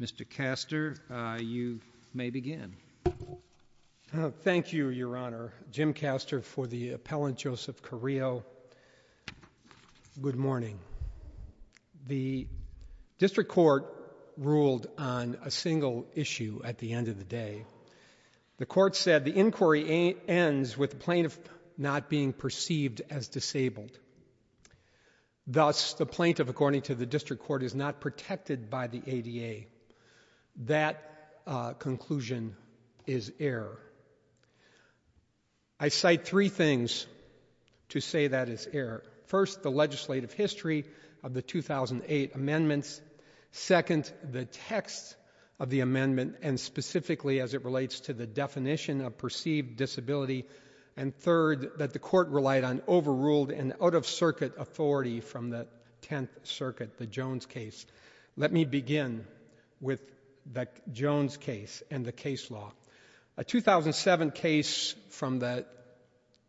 Mr. Castor, you may begin. Thank you, Your Honor. Jim Castor for the appellant, Joseph Carrillo. Good morning. The district court ruled on a single issue at the end of the day. The court said the inquiry ends with the plaintiff not being perceived as disabled. Thus, the plaintiff, according to the district court, is not protected by the ADA. That conclusion is error. I cite three things to say that is error. First, the legislative history of the 2008 amendments. Second, the text of the amendment and specifically as it relates to the definition of perceived disability and third, that the court relied on overruled and out-of-circuit authority from the Tenth Circuit, the Jones case. Let me begin with the Jones case and the case law. A 2007 case from the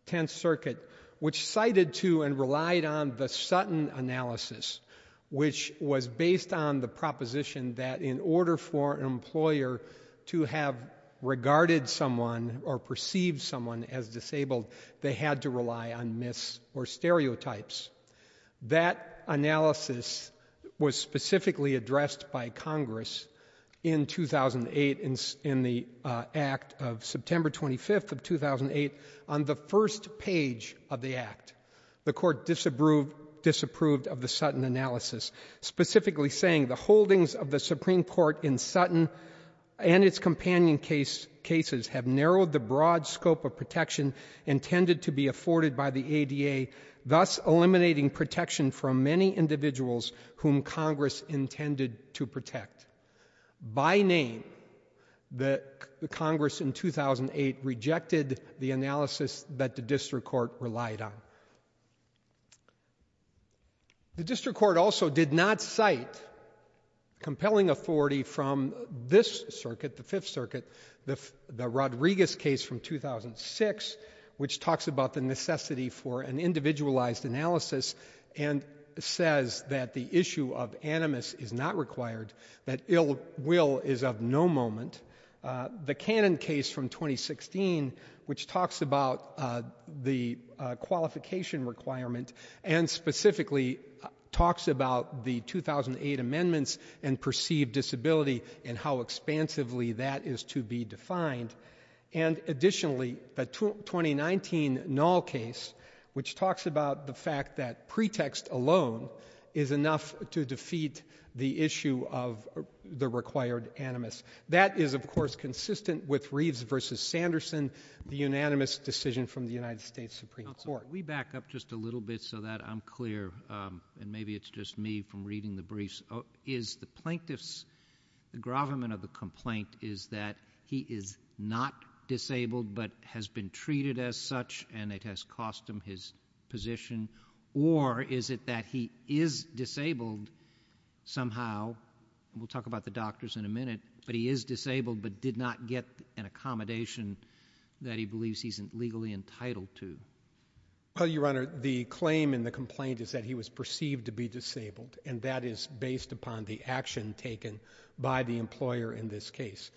Tenth Circuit, which cited to and relied on the Sutton analysis, which was based on the proposition that in order for an employer to have regarded someone or perceived someone as disabled, they had to rely on myths or stereotypes. That analysis was specifically addressed by Congress in 2008 in the Act of September 25th of 2008 on the first page of the Act. The court disapproved of the Sutton analysis, specifically saying the holdings of the Supreme Court in Sutton and its companion cases have narrowed the broad scope of protection intended to be afforded by the ADA, thus eliminating protection from many individuals whom Congress intended to protect. By name, the Congress in 2008 rejected the analysis that the district court relied on. The district court also did not cite compelling authority from this circuit, the Fifth Circuit, the Rodriguez case from 2006, which talks about the necessity for an individualized analysis and says that the issue of animus is not required, that ill will is of no moment. The Cannon case from 2016, which talks about the qualification requirement and specifically talks about the 2008 amendments and perceived disability and how expansively that is to be defined. And additionally, the 2019 Null case, which talks about the fact that pretext alone is enough to defeat the issue of the required animus. That is, of course, consistent with Reeves v. Sanderson, the unanimous decision from the United States Supreme Court. We back up just a little bit so that I'm clear, and maybe it's just me from reading the briefs. Is the plaintiff's, the gravamen of the complaint is that he is not disabled but has been treated as such and it has cost him his position? Or is it that he is disabled somehow, and we'll talk about the doctors in a minute, but he is disabled but did not get an accommodation that he believes he's legally entitled to? Well, Your Honor, the claim in the complaint is that he was perceived to be disabled, and that is based upon the action taken by the employer in this case.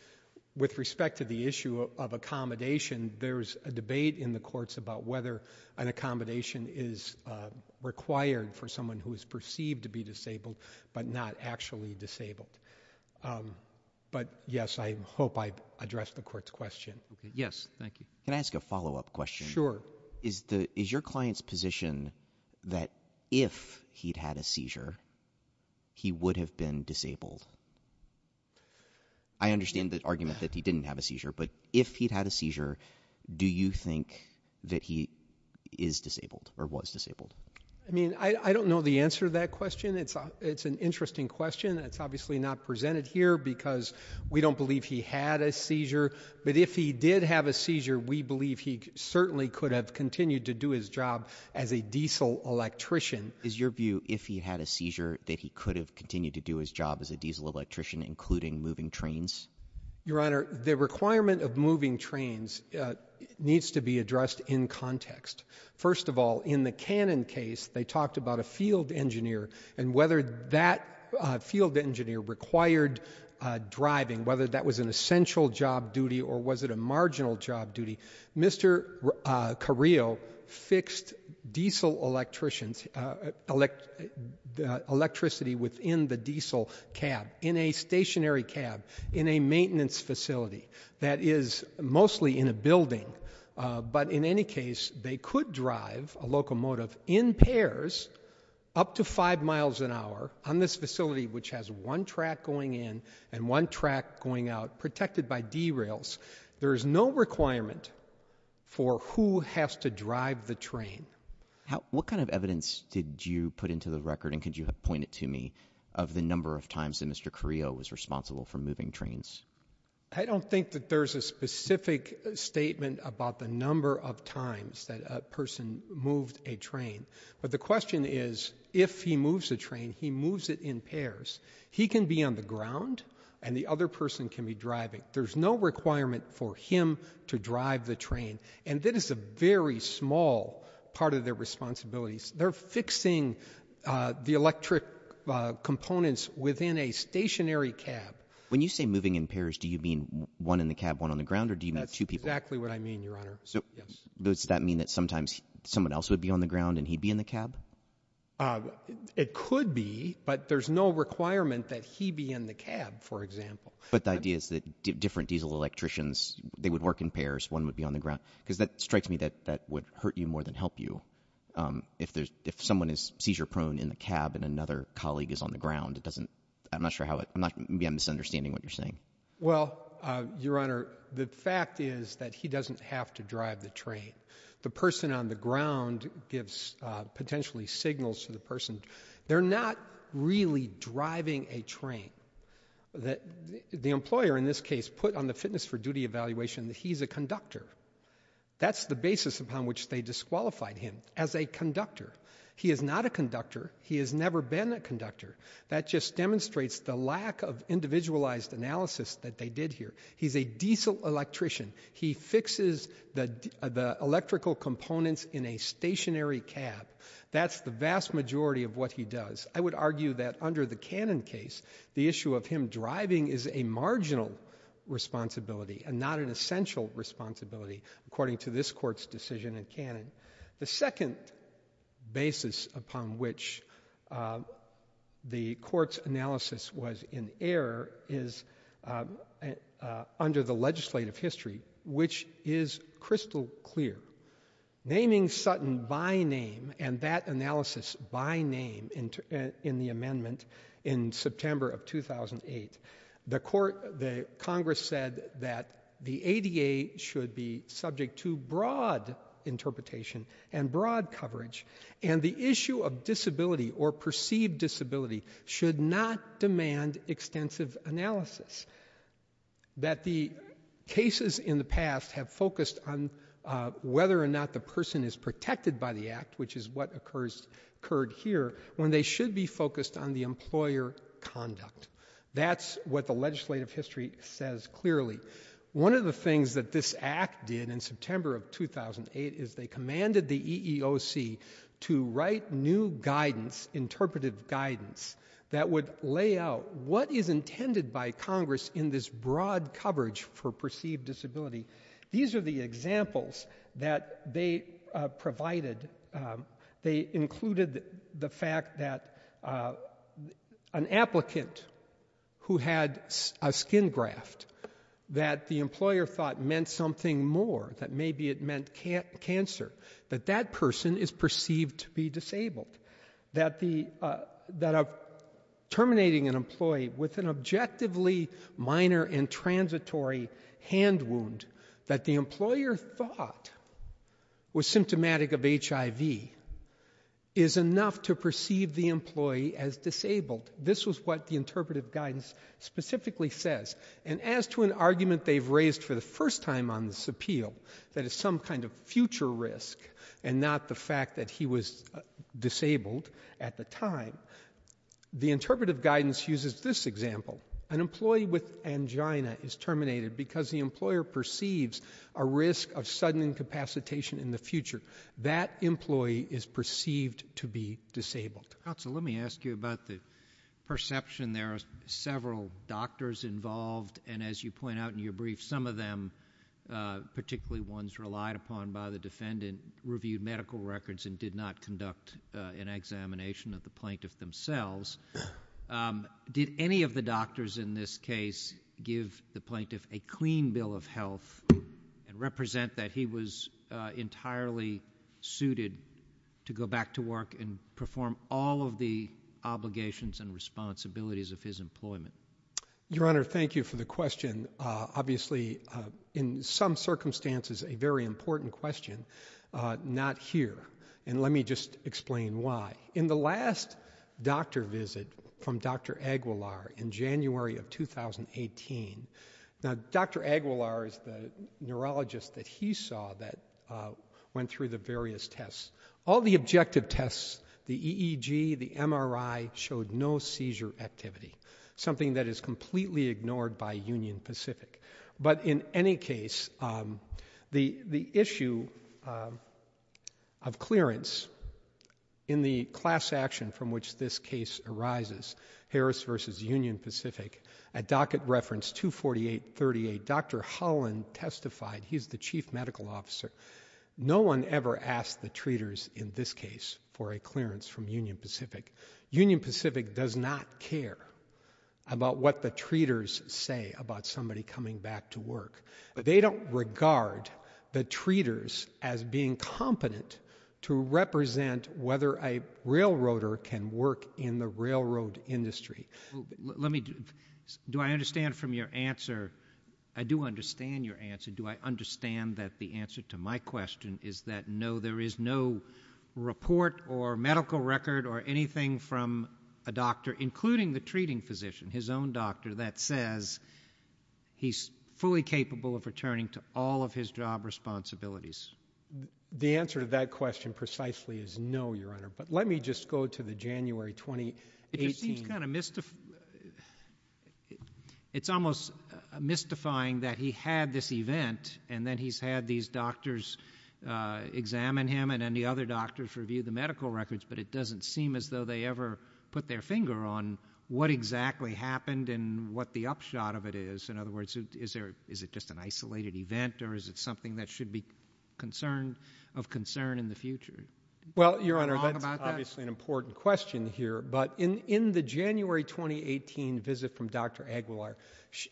With respect to the issue of accommodation, there's a debate in the courts about whether an accommodation is required for someone who is perceived to be disabled but not actually disabled. But yes, I hope I addressed the court's question. Yes, thank you. Can I ask a follow-up question? Sure. Is your client's position that if he'd had a seizure, he would have been disabled? I understand the argument that he didn't have a seizure, but if he'd had a seizure, do you think that he is disabled or was disabled? I mean, I don't know the answer to that question. It's an interesting question. It's obviously not presented here because we don't believe he had a seizure. But if he did have a seizure, we believe he certainly could have continued to do his job as a diesel electrician. Is your view, if he had a seizure, that he could have continued to do his job as a diesel electrician, including moving trains? Your Honor, the requirement of moving trains needs to be addressed in context. First of all, in the Cannon case, they talked about a field engineer and whether that field engineer required driving, whether that was an essential job duty or was it a marginal job duty. Mr. Carrillo fixed diesel electricity within the diesel cab, in a stationary cab, in a maintenance facility that is mostly in a building. But in any case, they could drive a locomotive in pairs up to five miles an hour on this facility which has one track going in and one track going out, protected by derails. There is no requirement for who has to drive the train. What kind of evidence did you put into the record, and could you point it to me, of the I don't think that there's a specific statement about the number of times that a person moved a train. But the question is, if he moves a train, he moves it in pairs. He can be on the ground and the other person can be driving. There's no requirement for him to drive the train. And that is a very small part of their responsibilities. They're fixing the electric components within a stationary cab. When you say moving in pairs, do you mean one in the cab, one on the ground, or do you mean two people? That's exactly what I mean, Your Honor. So does that mean that sometimes someone else would be on the ground and he'd be in the cab? It could be, but there's no requirement that he be in the cab, for example. But the idea is that different diesel electricians, they would work in pairs, one would be on the ground. Because that strikes me that that would hurt you more than help you. If someone is seizure-prone in the cab and another colleague is on the ground, it doesn't I'm not sure how, maybe I'm misunderstanding what you're saying. Well, Your Honor, the fact is that he doesn't have to drive the train. The person on the ground gives potentially signals to the person. They're not really driving a train. The employer in this case put on the fitness for duty evaluation that he's a conductor. That's the basis upon which they disqualified him, as a conductor. He is not a conductor. He has never been a conductor. That just demonstrates the lack of individualized analysis that they did here. He's a diesel electrician. He fixes the electrical components in a stationary cab. That's the vast majority of what he does. I would argue that under the Cannon case, the issue of him driving is a marginal responsibility and not an essential responsibility, according to this court's decision in Cannon. The second basis upon which the court's analysis was in error is under the legislative history, which is crystal clear. Naming Sutton by name and that analysis by name in the amendment in September of 2008, the Congress said that the ADA should be subject to broad interpretation and broad coverage. The issue of disability or perceived disability should not demand extensive analysis. That the cases in the past have focused on whether or not the person is protected by the act, which is what occurred here, when they should be focused on the employer conduct. That's what the legislative history says clearly. One of the things that this act did in September of 2008 is they commanded the EEOC to write new guidance, interpretive guidance, that would lay out what is intended by Congress in this broad coverage for perceived disability. These are the examples that they provided. They included the fact that an applicant who had a skin graft, that the employer thought meant something more, that maybe it meant cancer, that that person is perceived to be disabled, that terminating an employee with an objectively minor and transitory hand wound, that the employer thought was symptomatic of HIV is enough to perceive the employee as disabled. This was what the interpretive guidance specifically says. And as to an argument they've raised for the first time on this appeal, that is some kind of future risk and not the fact that he was disabled at the time, the interpretive guidance uses this example. An employee with angina is terminated because the employer perceives a risk of sudden incapacitation in the future. That employee is perceived to be disabled. Counsel, let me ask you about the perception. There are several doctors involved, and as you point out in your brief, some of them, particularly ones relied upon by the defendant, reviewed medical records and did not conduct an examination of the plaintiff themselves. Did any of the doctors in this case give the plaintiff a clean bill of health and represent that he was entirely suited to go back to work and perform all of the obligations and responsibilities of his employment? Your Honor, thank you for the question. And obviously in some circumstances a very important question, not here. And let me just explain why. In the last doctor visit from Dr. Aguilar in January of 2018, now Dr. Aguilar is the neurologist that he saw that went through the various tests. All the objective tests, the EEG, the MRI, showed no seizure activity, something that is completely ignored by Union Pacific. But in any case, the issue of clearance in the class action from which this case arises, Harris v. Union Pacific, at docket reference 24838, Dr. Holland testified, he's the chief medical officer, no one ever asked the treaters in this case for a clearance from Union Pacific. Union Pacific does not care about what the treaters say about somebody coming back to work. They don't regard the treaters as being competent to represent whether a railroader can work in the railroad industry. Let me, do I understand from your answer, I do understand your answer, do I understand that the answer to my question is that no, there is no report or medical record or anything from a doctor, including the treating physician, his own doctor, that says he's fully capable of returning to all of his job responsibilities? The answer to that question precisely is no, Your Honor. But let me just go to the January 2018. It just seems kind of mystifying. It's almost mystifying that he had this event and then he's had these doctors examine him and then the other doctors review the medical records, but it doesn't seem as though they ever put their finger on what exactly happened and what the upshot of it is. In other words, is it just an isolated event or is it something that should be of concern in the future? Well, Your Honor, that's obviously an important question here, but in the January 2018 visit from Dr. Aguilar,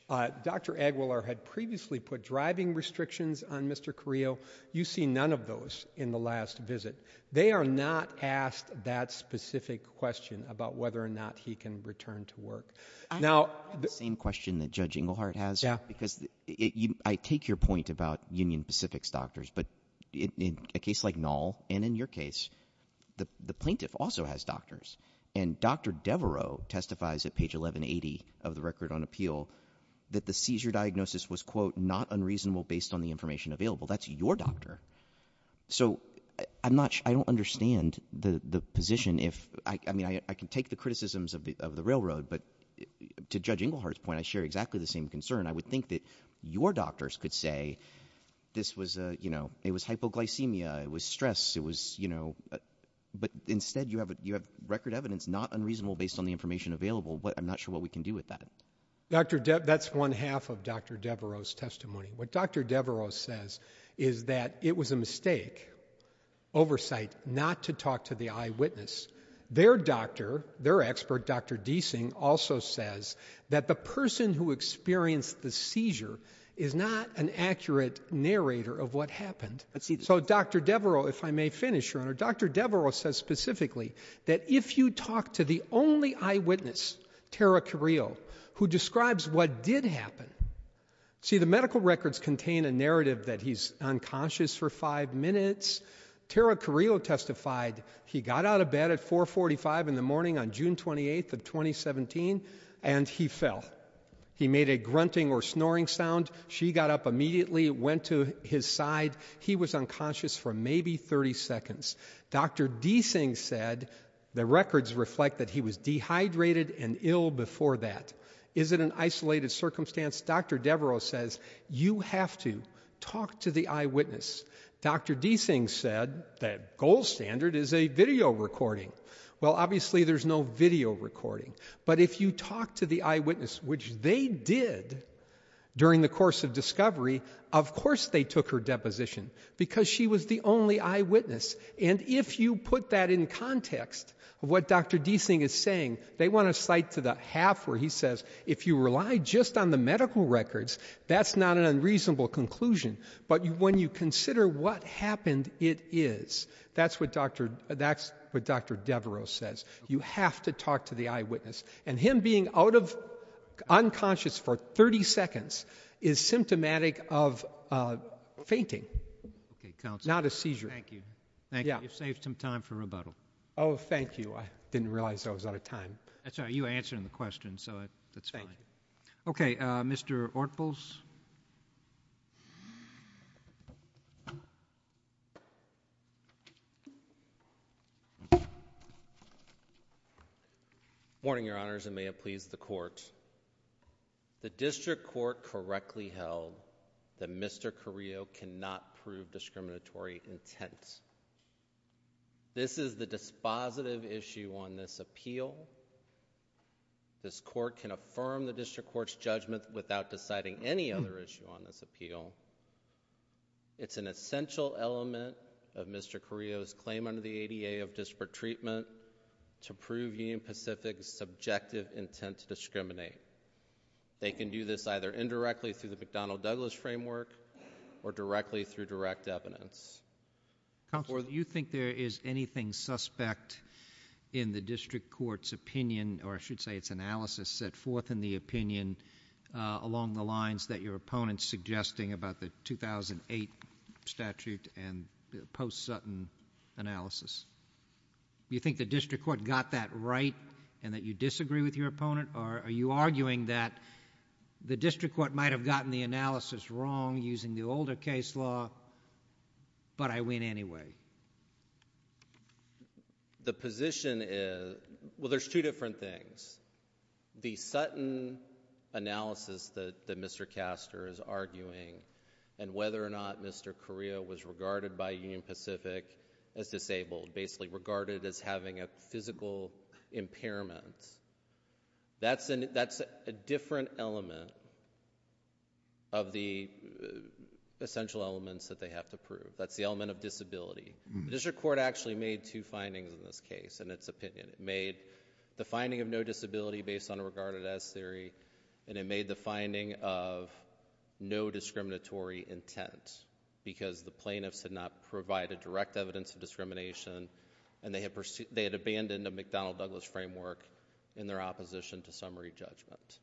Dr. Aguilar had previously put driving restrictions on Mr. Carrillo. You see none of those in the last visit. They are not asked that specific question about whether or not he can return to work. Now the same question that Judge Inglehart has, because I take your point about Union Pacific's doctors, but in a case like Knoll and in your case, the plaintiff also has doctors and Dr. Devereaux testifies at page 1180 of the record on appeal that the seizure diagnosis was quote not unreasonable based on the information available. That's your doctor. So I'm not, I don't understand the position if, I mean, I can take the criticisms of the railroad, but to Judge Inglehart's point, I share exactly the same concern. I would think that your doctors could say this was a, you know, it was hypoglycemia. It was stress. It was, you know, but instead you have a, you have record evidence, not unreasonable based on the information available. What I'm not sure what we can do with that. Dr. Deb, that's one half of Dr. Devereaux testimony. What Dr. Devereaux says is that it was a mistake oversight not to talk to the eyewitness. Their doctor, their expert, Dr. Deasing also says that the person who experienced the seizure is not an accurate narrator of what happened. So Dr. Devereaux, if I may finish your honor, Dr. Devereaux says specifically that if you talk to the only eyewitness, Tara Carrillo, who describes what did happen. See, the medical records contain a narrative that he's unconscious for five minutes. Tara Carrillo testified he got out of bed at 4.45 in the morning on June 28th of 2017 and he fell. He made a grunting or snoring sound. She got up immediately, went to his side. He was unconscious for maybe 30 seconds. Dr. Deasing said the records reflect that he was dehydrated and ill before that. Is it an isolated circumstance? Dr. Devereaux says you have to talk to the eyewitness. Dr. Deasing said that gold standard is a video recording. Well, obviously there's no video recording. But if you talk to the eyewitness, which they did during the course of discovery, of course they took her deposition because she was the only eyewitness. And if you put that in context, what Dr. Deasing is saying, they want to cite to the half where he says if you rely just on the medical records, that's not an unreasonable conclusion. But when you consider what happened, it is. That's what Dr. Devereaux says. You have to talk to the eyewitness. And him being out of unconscious for 30 seconds is symptomatic of fainting. Not a seizure. Thank you. You saved some time for rebuttal. Oh, thank you. I didn't realize I was out of time. That's all right. You answered the question, so that's fine. Okay, Mr. Ortfels. Morning, Your Honors, and may it please the Court. The District Court correctly held that Mr. Carrillo cannot prove discriminatory intent. This is the dispositive issue on this appeal. This Court can affirm the District Court's judgment without deciding any other issue on this appeal. It's an essential element of Mr. Carrillo's claim under the ADA of disparate treatment to prove Union Pacific's subjective intent to discriminate. They can do this either indirectly through the McDonnell-Douglas framework or directly through direct evidence. Counselor, do you think there is anything suspect in the District Court's opinion, or I should say its analysis, set forth in the opinion along the lines that your opponent is suggesting about the 2008 statute and the post-Sutton analysis? Do you think the District Court got that right and that you disagree with your opponent, or are you arguing that the District Court might have gotten the analysis wrong using the older case law, but I win anyway? The position is, well, there's two different things. The Sutton analysis that Mr. Caster is arguing, and whether or not Mr. Carrillo was regarded by Union Pacific as disabled, basically regarded as having a physical impairment, that's a different element of the essential elements that they have to prove. That's the element of disability. The District Court actually made two findings in this case, in its opinion. It made the finding of no disability based on a regarded as theory, and it made the finding of no discriminatory intent, because the plaintiffs had not provided direct evidence of discrimination, and they had abandoned a McDonnell-Douglas framework in their opposition to summary judgment.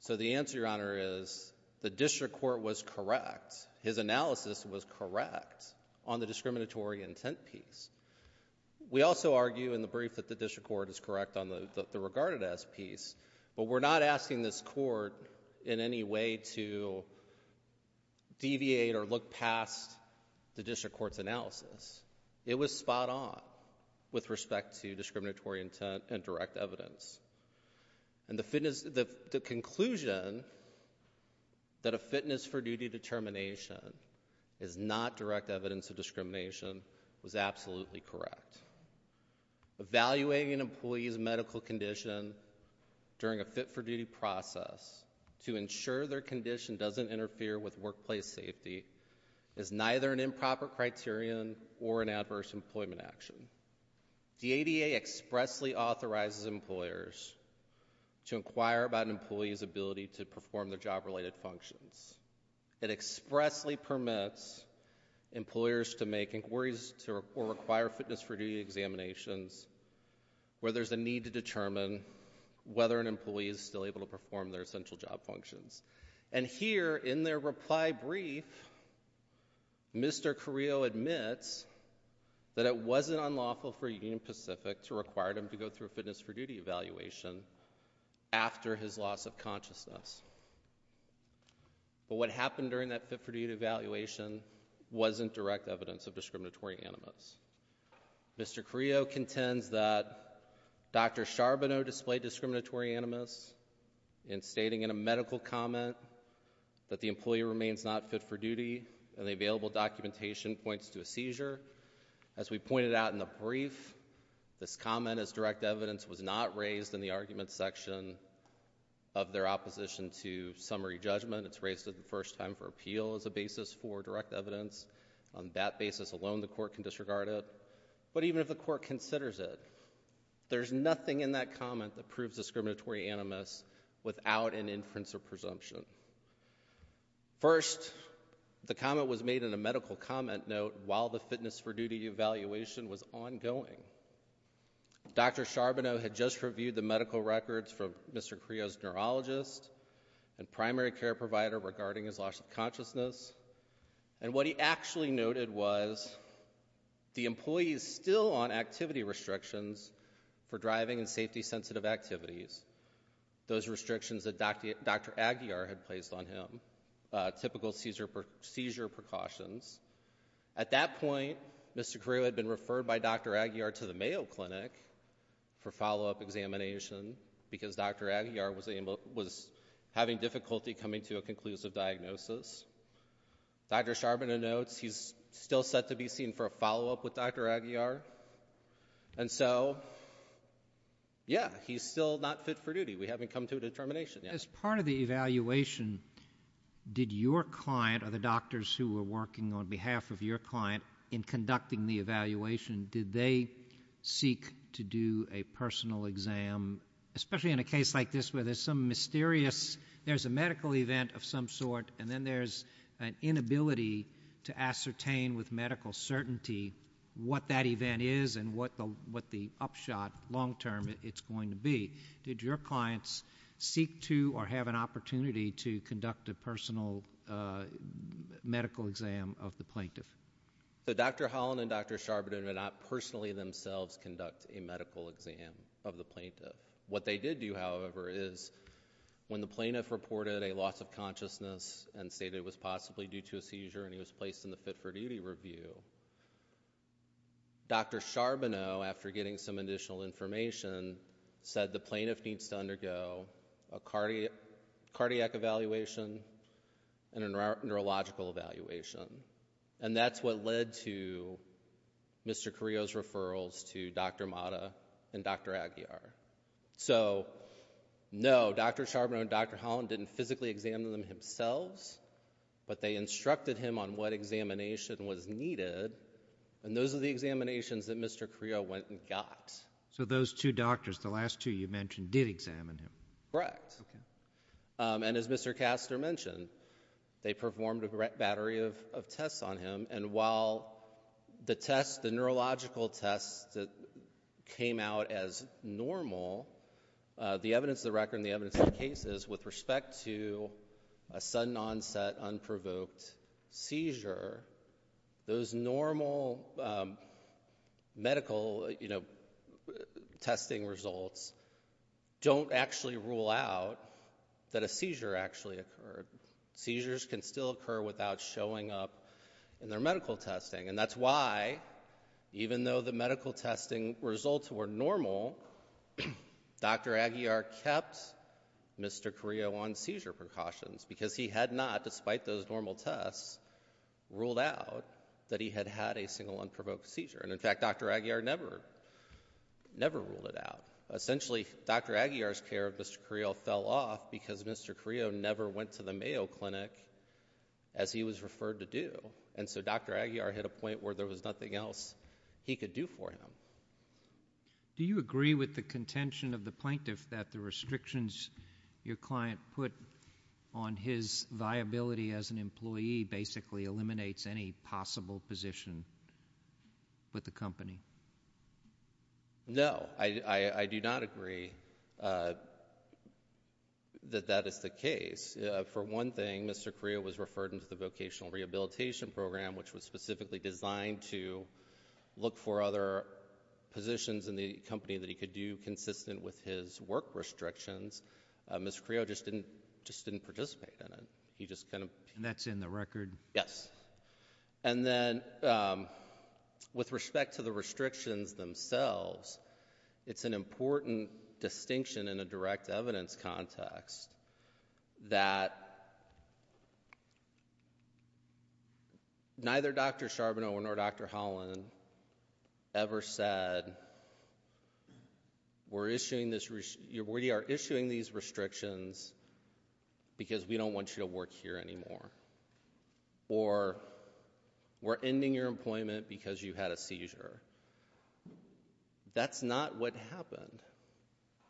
So the answer, Your Honor, is the District Court was correct. His analysis was correct on the discriminatory intent piece. We also argue in the brief that the District Court is correct on the regarded as piece, but we're not asking this court in any way to deviate or look past the District Court's analysis. It was spot on with respect to discriminatory intent and direct evidence. And the conclusion that a fitness for duty determination is not direct evidence of discrimination was absolutely correct. Evaluating an employee's medical condition during a fit-for-duty process to ensure their condition doesn't interfere with workplace safety is neither an improper criterion or an adverse employment action. The ADA expressly authorizes employers to inquire about an employee's ability to perform their job-related functions. It expressly permits employers to make inquiries or require fitness-for-duty examinations where there's a need to determine whether an employee is still able to perform their essential job functions. And here, in their reply brief, Mr. Carrillo admits that it wasn't unlawful for Union Pacific to require him to go through a fitness-for-duty evaluation after his loss of consciousness. But what happened during that fit-for-duty evaluation wasn't direct evidence of discriminatory animus. Mr. Carrillo contends that Dr. Charbonneau displayed discriminatory animus in stating in a medical comment that the employee remains not fit for duty and the available documentation points to a seizure. As we pointed out in the brief, this comment as direct evidence was not raised in the argument section of their opposition to summary judgment. It's raised for the first time for appeal as a basis for direct evidence. On that basis alone, the court can disregard it. But even if the court considers it, there's nothing in that comment that proves discriminatory animus without an inference or presumption. First, the comment was made in a medical comment note while the fitness-for-duty evaluation was ongoing. Dr. Charbonneau had just reviewed the medical records for Mr. Carrillo's neurologist and primary care provider regarding his loss of consciousness, and what he actually noted was, the employee is still on activity restrictions for driving and safety-sensitive activities, those restrictions that Dr. Aguiar had placed on him, typical seizure precautions. At that point, Mr. Carrillo had been referred by Dr. Aguiar to the Mayo Clinic for follow-up examination because Dr. Aguiar was having difficulty coming to a conclusive diagnosis. Dr. Charbonneau notes, he's still set to be seen for a follow-up with Dr. Aguiar, and so, yeah, he's still not fit for duty. We haven't come to a determination yet. As part of the evaluation, did your client or the doctors who were working on behalf of your client in conducting the evaluation, did they seek to do a personal exam, especially in a case like this where there's some mysterious, there's a medical event of some sort, and then there's an inability to ascertain with medical certainty what that event is and what the upshot, long-term, it's going to be. Did your clients seek to or have an opportunity to conduct a personal medical exam of the plaintiff? Dr. Holland and Dr. Charbonneau did not personally themselves conduct a medical exam of the plaintiff. What they did do, however, is when the plaintiff reported a loss of consciousness and stated it was possibly due to a seizure and he was placed in the fit-for-duty review, Dr. Charbonneau, after getting some additional information, said the plaintiff needs to undergo a cardiac evaluation and a neurological evaluation, and that's what led to Mr. Carrillo's referrals to Dr. Mata and Dr. Aguiar. So, no, Dr. Charbonneau and Dr. Holland didn't physically examine them themselves, but they instructed him on what examination was needed, and those are the examinations that Mr. Carrillo went and got. So those two doctors, the last two you mentioned, did examine him? Correct. And as Mr. Castor mentioned, they performed a battery of tests on him, and while the tests, the neurological tests that came out as normal, the evidence of the record and the evidence of the cases with respect to a sudden onset, unprovoked seizure, those normal medical testing results don't actually rule out that a seizure actually occurred. Seizures can still occur without showing up in their medical testing, and that's why, even though the medical testing results were normal, Dr. Aguiar kept Mr. Carrillo on seizure precautions, because he had not, despite those normal tests, ruled out that he had had a single unprovoked seizure, and in fact, Dr. Aguiar never ruled it out. Essentially, Dr. Aguiar's care of Mr. Carrillo fell off because Mr. Carrillo never went to the Mayo Clinic as he was referred to do, and so Dr. Aguiar hit a point where there was nothing else he could do for him. Do you agree with the contention of the plaintiff that the restrictions your client put on his viability as an employee basically eliminates any possible position with the company? No, I do not agree that that is the case. For one thing, Mr. Carrillo was referred into the Vocational Rehabilitation Program, which was specifically designed to look for other positions in the company that he could do consistent with his work restrictions. Mr. Carrillo just didn't participate in it. That's in the record? Yes. And then, with respect to the restrictions themselves, it's an important distinction in a direct evidence context that neither Dr. Charbonneau nor Dr. Holland ever said, we are issuing these restrictions because we don't want you to work here anymore, or we're ending your employment because you had a seizure. That's not what happened.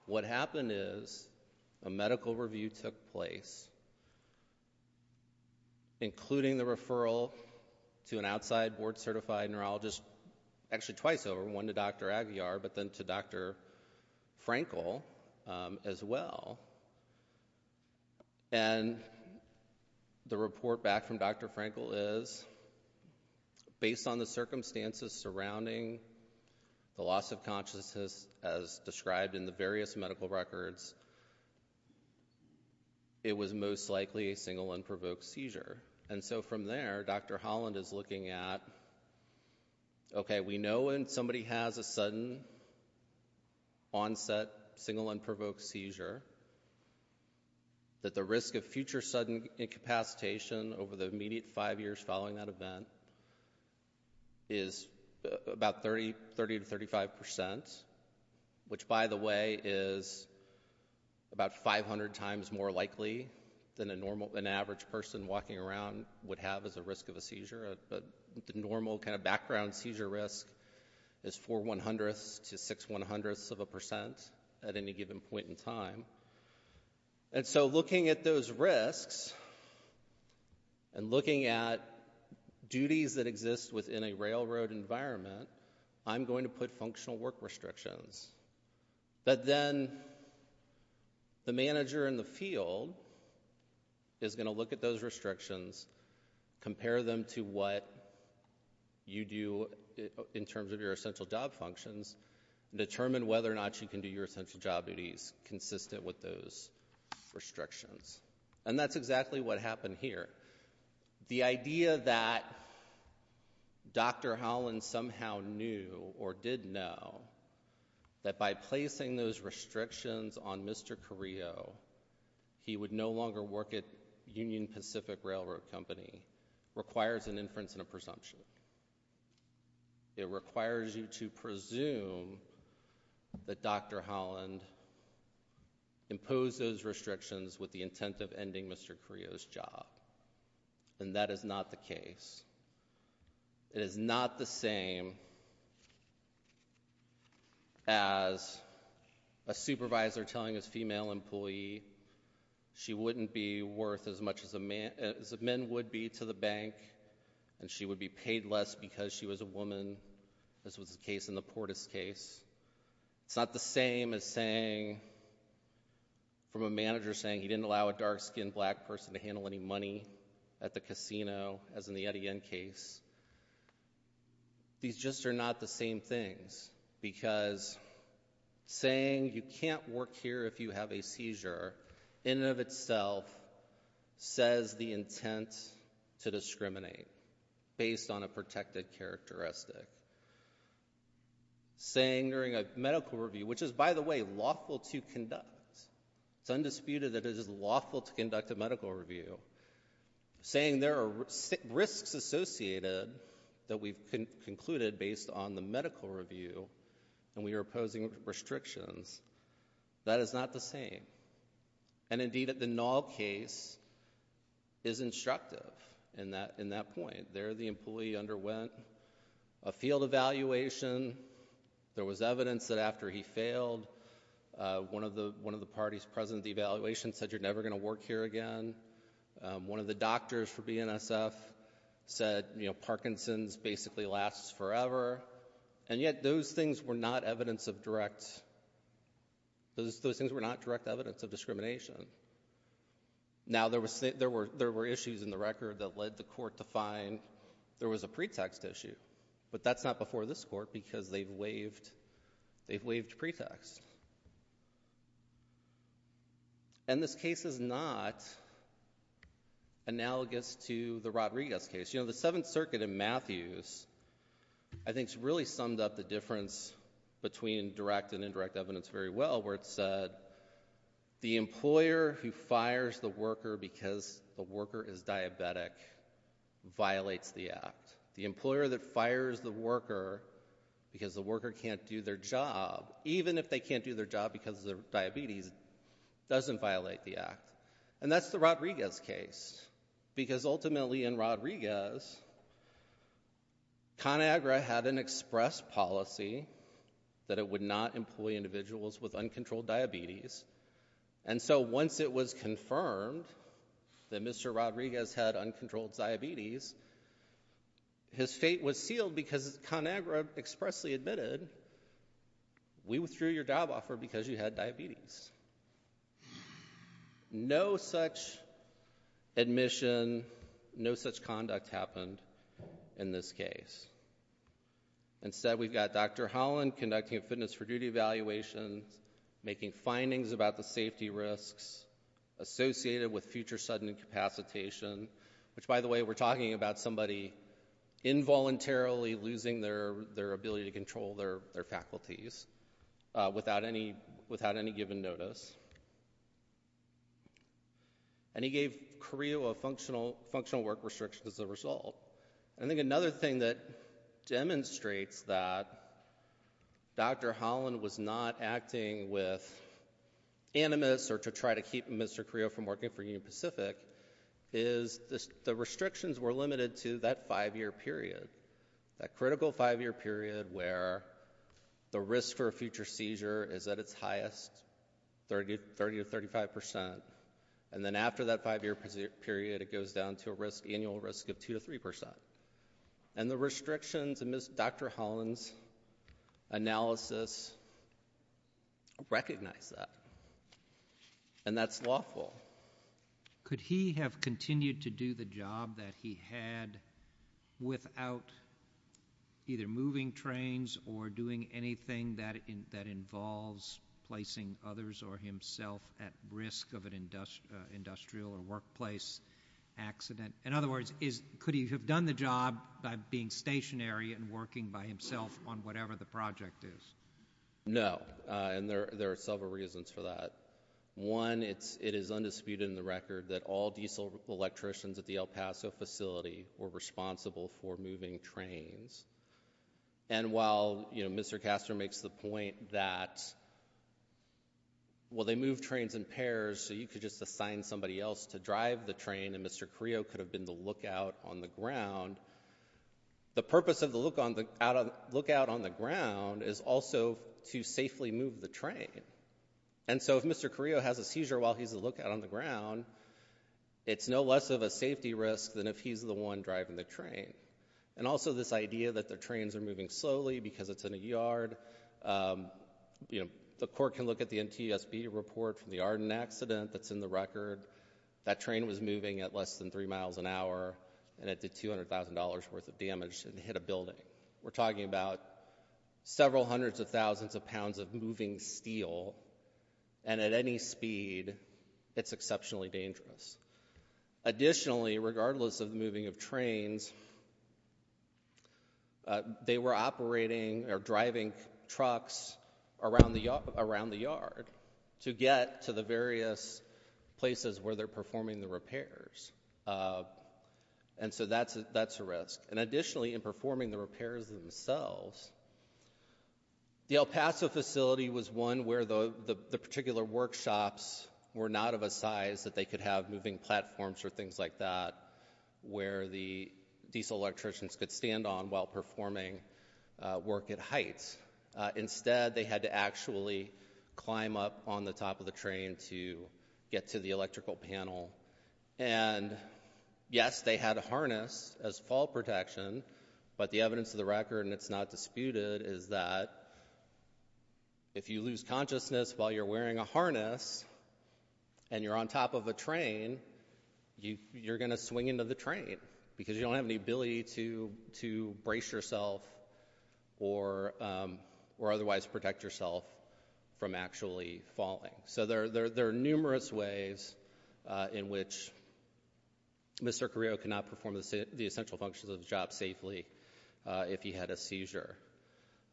What happened is a medical review took place, including the referral to an outside board-certified neurologist, actually twice over, one to Dr. Aguiar, but then to Dr. Frankel as well. And the report back from Dr. Frankel is, based on the circumstances surrounding the loss of consciousness as described in the various medical records, it was most likely a single unprovoked seizure. And so from there, Dr. Holland is looking at, okay, we know when somebody has a sudden onset single unprovoked seizure that the risk of future sudden incapacitation over the immediate five years following that event is about 30 to 35 percent, which, by the way, is about 500 times more likely than an average person walking around would have as a risk of a seizure. The normal kind of background seizure risk is 4 one-hundredths to 6 one-hundredths of a percent at any given point in time. And so looking at those risks, and looking at duties that exist within a railroad environment, I'm going to put functional work restrictions. But then the manager in the field is going to look at those restrictions, compare them to what you do in terms of your essential job functions, and determine whether or not you can do your essential job duties consistent with those restrictions. And that's exactly what happened here. The idea that Dr. Holland somehow knew or did know that by placing those restrictions on Mr. Carrillo, he would no longer work at Union Pacific Railroad Company requires an inference and a presumption. It requires you to presume that Dr. Holland imposed those restrictions with the intent of ending Mr. Carrillo's job. And that is not the case. It is not the same as a supervisor telling his female employee she wouldn't be worth as much as men would be to the bank, and she would be paid less because she was a woman, as was the case in the Portis case. It's not the same as saying, from a manager saying he didn't allow a dark-skinned black person to handle any money at the casino, as in the Etienne case. These just are not the same things, because saying you can't work here if you have a seizure, in and of itself, says the intent to discriminate, based on a protected characteristic. Saying during a medical review, which is, by the way, lawful to conduct. It's undisputed that it is lawful to conduct a medical review. Saying there are risks associated that we've concluded based on the medical review, and we are imposing restrictions. That is not the same. And indeed, the Nall case is instructive in that point. There the employee underwent a field evaluation. There was evidence that after he failed, one of the parties present at the evaluation said, you're never going to work here again. One of the doctors for BNSF said, you know, Parkinson's basically lasts forever. And yet, those things were not direct evidence of discrimination. Now, there were issues in the record that led the court to find there was a pretext issue. But that's not before this court, because they've waived, they've waived pretext. And this case is not analogous to the Rodriguez case. You know, the Seventh Circuit in Matthews, I think, has really summed up the difference between direct and indirect evidence very well, where it said, the employer who fires the worker because the worker is diabetic violates the act. The employer that fires the worker because the worker can't do their job, even if they can't do their job because of their diabetes, doesn't violate the act. And that's the Rodriguez case. Because ultimately, in Rodriguez, ConAgra had an express policy that it would not employ individuals with diabetes. And when ConAgra was informed that Mr. Rodriguez had uncontrolled diabetes, his fate was sealed because ConAgra expressly admitted, we withdrew your job offer because you had diabetes. No such admission, no such conduct happened in this case. Instead, we've got Dr. Holland conducting a fitness for duty evaluation, making findings about the safety risks associated with future sudden incapacitation, which, by the way, we're talking about somebody involuntarily losing their ability to control their faculties without any given notice. And he gave Carrillo a functional work restriction as a result. And I think another thing that to try to keep Mr. Carrillo from working for Union Pacific is the restrictions were limited to that five-year period, that critical five-year period where the risk for a future seizure is at its highest, 30 to 35 percent. And then after that five-year period, it goes down to a risk, annual risk of 2 to 3 percent. And the restrictions in Dr. Holland's analysis recognize that. And that's lawful. Could he have continued to do the job that he had without either moving trains or doing anything that involves placing others or himself at risk of an industrial or workplace accident? In other words, could he have done the job by being stationary and working by himself on whatever the project is? No. And there are several reasons for that. One, it is undisputed in the record that all diesel electricians at the El Paso facility were responsible for moving trains. And while, you know, Mr. Castor makes the point that, well, they move trains in pairs, so you could just assign somebody else to drive the train and Mr. Carrillo could have been the lookout on the ground, the purpose of the lookout on the ground is also to safely move the train. And so if Mr. Carrillo has a seizure while he's a lookout on the ground, it's no less of a safety risk than if he's the one driving the train. And also this idea that the trains are moving slowly because it's in a yard. You know, the court can look at the NTSB report from the Arden accident that's in the record. That train was moving at less than three miles an hour and it did $200,000 worth of damage and hit a building. We're talking about several hundreds of thousands of pounds of moving steel. And at any speed, it's exceptionally dangerous. Additionally, regardless of the moving of trains, they were operating or driving trucks around the yard to get to the various places where they're performing the repairs. And so that's a risk. And additionally, in performing the repairs themselves, the El Paso facility was one where the particular workshops were not of a size that they could have moving platforms or things like that where the diesel electricians could stand on while performing work at heights. Instead, they had to actually climb up on the top of the train. Yes, they had a harness as fall protection, but the evidence of the record and it's not disputed is that if you lose consciousness while you're wearing a harness and you're on top of a train, you're going to swing into the train because you don't have any ability to brace yourself or otherwise protect yourself from actually falling. So there are numerous ways in which Mr. Carrillo cannot perform the essential functions of the job safely if he had a seizure.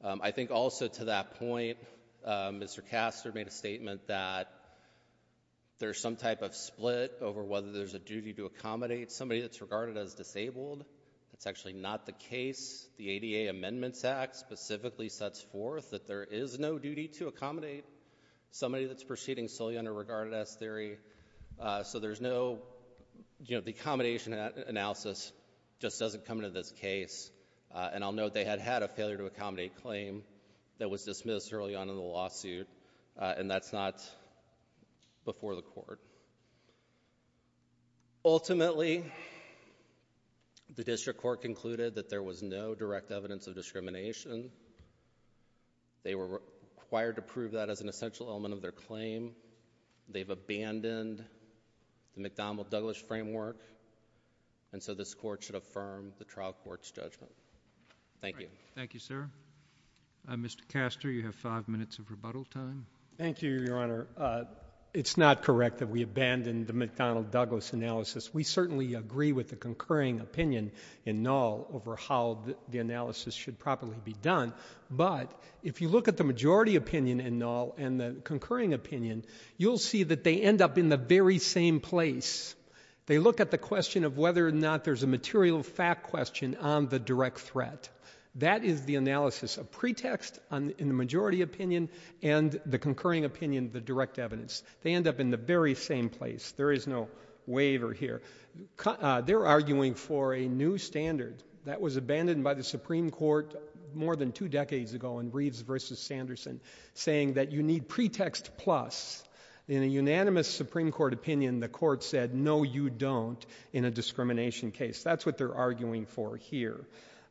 I think also to that point, Mr. Castor made a statement that there's some type of split over whether there's a duty to accommodate somebody that's regarded as disabled. That's actually not the case. The ADA Amendments Act specifically sets forth that there is no duty to accommodate somebody that's proceeding solely under regarded as theory. So there's no, you know, the accommodation analysis just doesn't come into this case. And I'll note they had had a failure to accommodate claim that was dismissed early on in the lawsuit and that's not before the court. Ultimately, the district court concluded that there was no direct evidence of discrimination. They were required to prove that as an essential element of their claim. They've abandoned the McDonnell-Douglas framework and so this court should affirm the trial court's judgment. Thank you. Thank you, sir. Mr. Castor, you have five minutes of rebuttal time. Thank you, Your Honor. It's not correct that we abandoned the McDonnell-Douglas analysis. We certainly agree with the concurring opinion in Null over how the analysis should properly be done. But if you look at the majority opinion in Null and the concurring opinion, you'll see that they end up in the very same place. They look at the question of whether or not there's a material fact question on the direct threat. That is the analysis of pretext in the majority opinion and the concurring opinion, the direct evidence. They end up in the very same place. There is no waiver here. They're arguing for a new standard that was abandoned by the Supreme Court more than two decades ago in Reeves v. Sanderson, saying that you need pretext plus. In a unanimous Supreme Court opinion, the court said, no, you don't in a discrimination case. That's what they're arguing for here.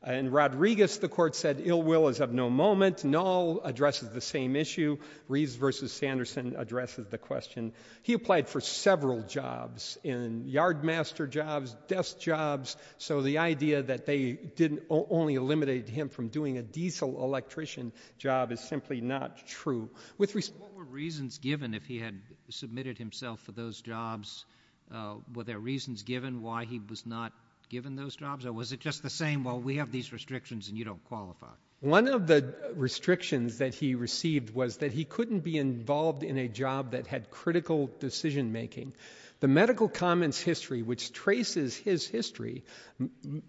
In Rodriguez, the court said ill will is of no moment. Null addresses the same issue. Reeves v. Sanderson addresses the question. He applied for several jobs in yardmaster jobs, desk jobs. So the idea that they didn't only eliminate him from doing a diesel electrician job is simply not true. With respect What were reasons given if he had submitted himself for those jobs? Were there reasons given why he was not given those jobs? Or was it just the same, well, we have these restrictions and you don't qualify? One of the restrictions that he received was that he couldn't be involved in a job that had critical decision making. The Medical Commons history, which traces his history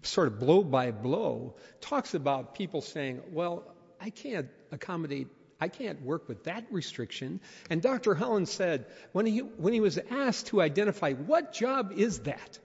sort of blow by blow, talks about people saying, well, I can't accommodate, I can't work with that restriction. And Dr. Holland said, when he was asked to identify what job is that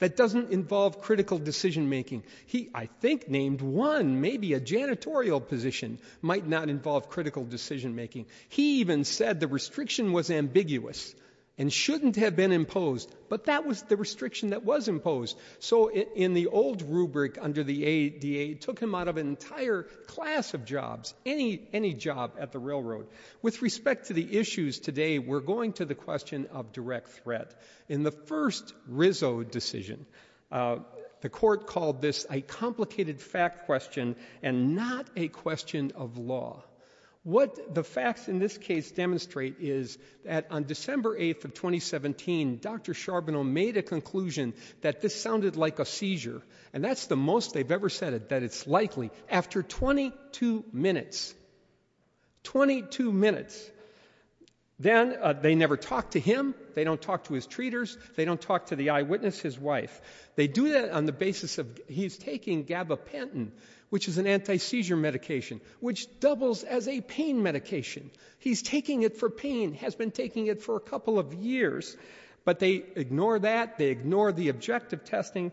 that doesn't involve critical decision making, he I think named one, maybe a janitorial position might not involve critical decision making. He even said the restriction was ambiguous and shouldn't have been imposed. But that was the restriction that was imposed. So in the old rubric under the ADA, it took him out of an entire class of jobs, any job at the railroad. With respect to the issues today, we're going to the question of direct threat. In the first Rizzo decision, the court called this a complicated fact question and not a question of law. What the facts in this case demonstrate is that on December 8th of 2017, Dr. Charbonneau made a conclusion that this sounded like a seizure. And that's the most they've ever said it, that it's likely. After 22 minutes, 22 minutes, then they never talked to him, they don't talk to the eyewitness, his wife. They do that on the basis of he's taking gabapentin, which is an anti-seizure medication, which doubles as a pain medication. He's taking it for pain, has been taking it for a couple of years, but they ignore that, they ignore the objective testing,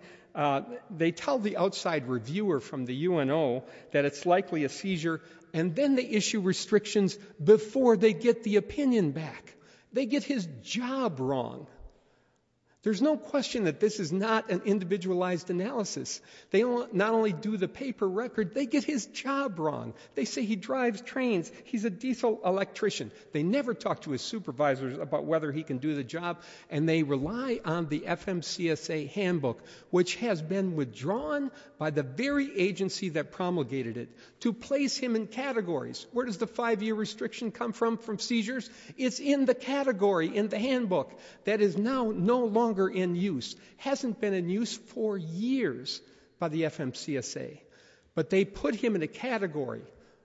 they tell the outside reviewer from the UNO that it's likely a seizure, and then they issue restrictions before they get the opinion back. They get his job wrong. There's no question that this is not an individualized analysis. They not only do the paper record, they get his job wrong. They say he drives trains, he's a diesel electrician. They never talk to his supervisors about whether he can do the job, and they rely on the FMCSA handbook, which has been withdrawn by the very agency that promulgated it, to place him in categories. Where does the five-year restriction come from, from seizures? It's in the category, in the handbook, that is now no longer in use, hasn't been in use for years by the FMCSA. But they put him in a category,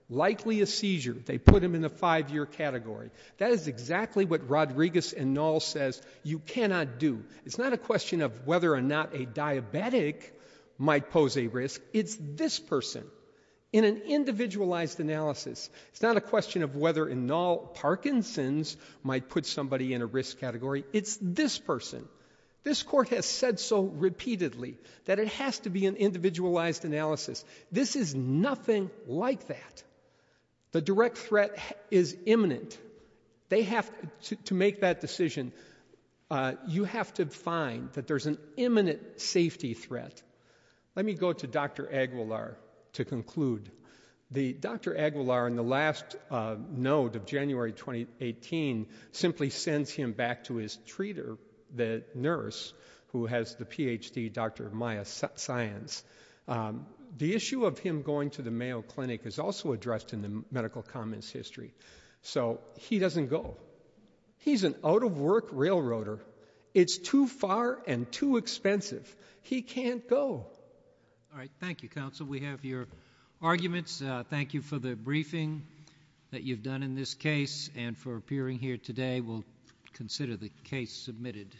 likely a seizure, they put him in a five-year category. That is exactly what Rodriguez et al. says you cannot do. It's not a question of whether or not a diabetic might pose a risk, it's this person. In an individualized analysis, it's not a question of whether or not Parkinson's might put somebody in a risk category, it's this person. This court has said so repeatedly that it has to be an individualized analysis. This is nothing like that. The direct threat is imminent. They have to make that decision. You have to find that there's an imminent safety threat. Let me go to Dr. Aguilar to the last note of January 2018, simply sends him back to his treater, the nurse, who has the Ph.D., Dr. Maya Saenz. The issue of him going to the Mayo Clinic is also addressed in the medical comments history. So he doesn't go. He's an out-of-work railroader. It's too far and too expensive. He can't go. All right. Thank you, Counsel. We have your arguments. Thank you for the briefing that you've done in this case and for appearing here today. We'll consider the case submitted.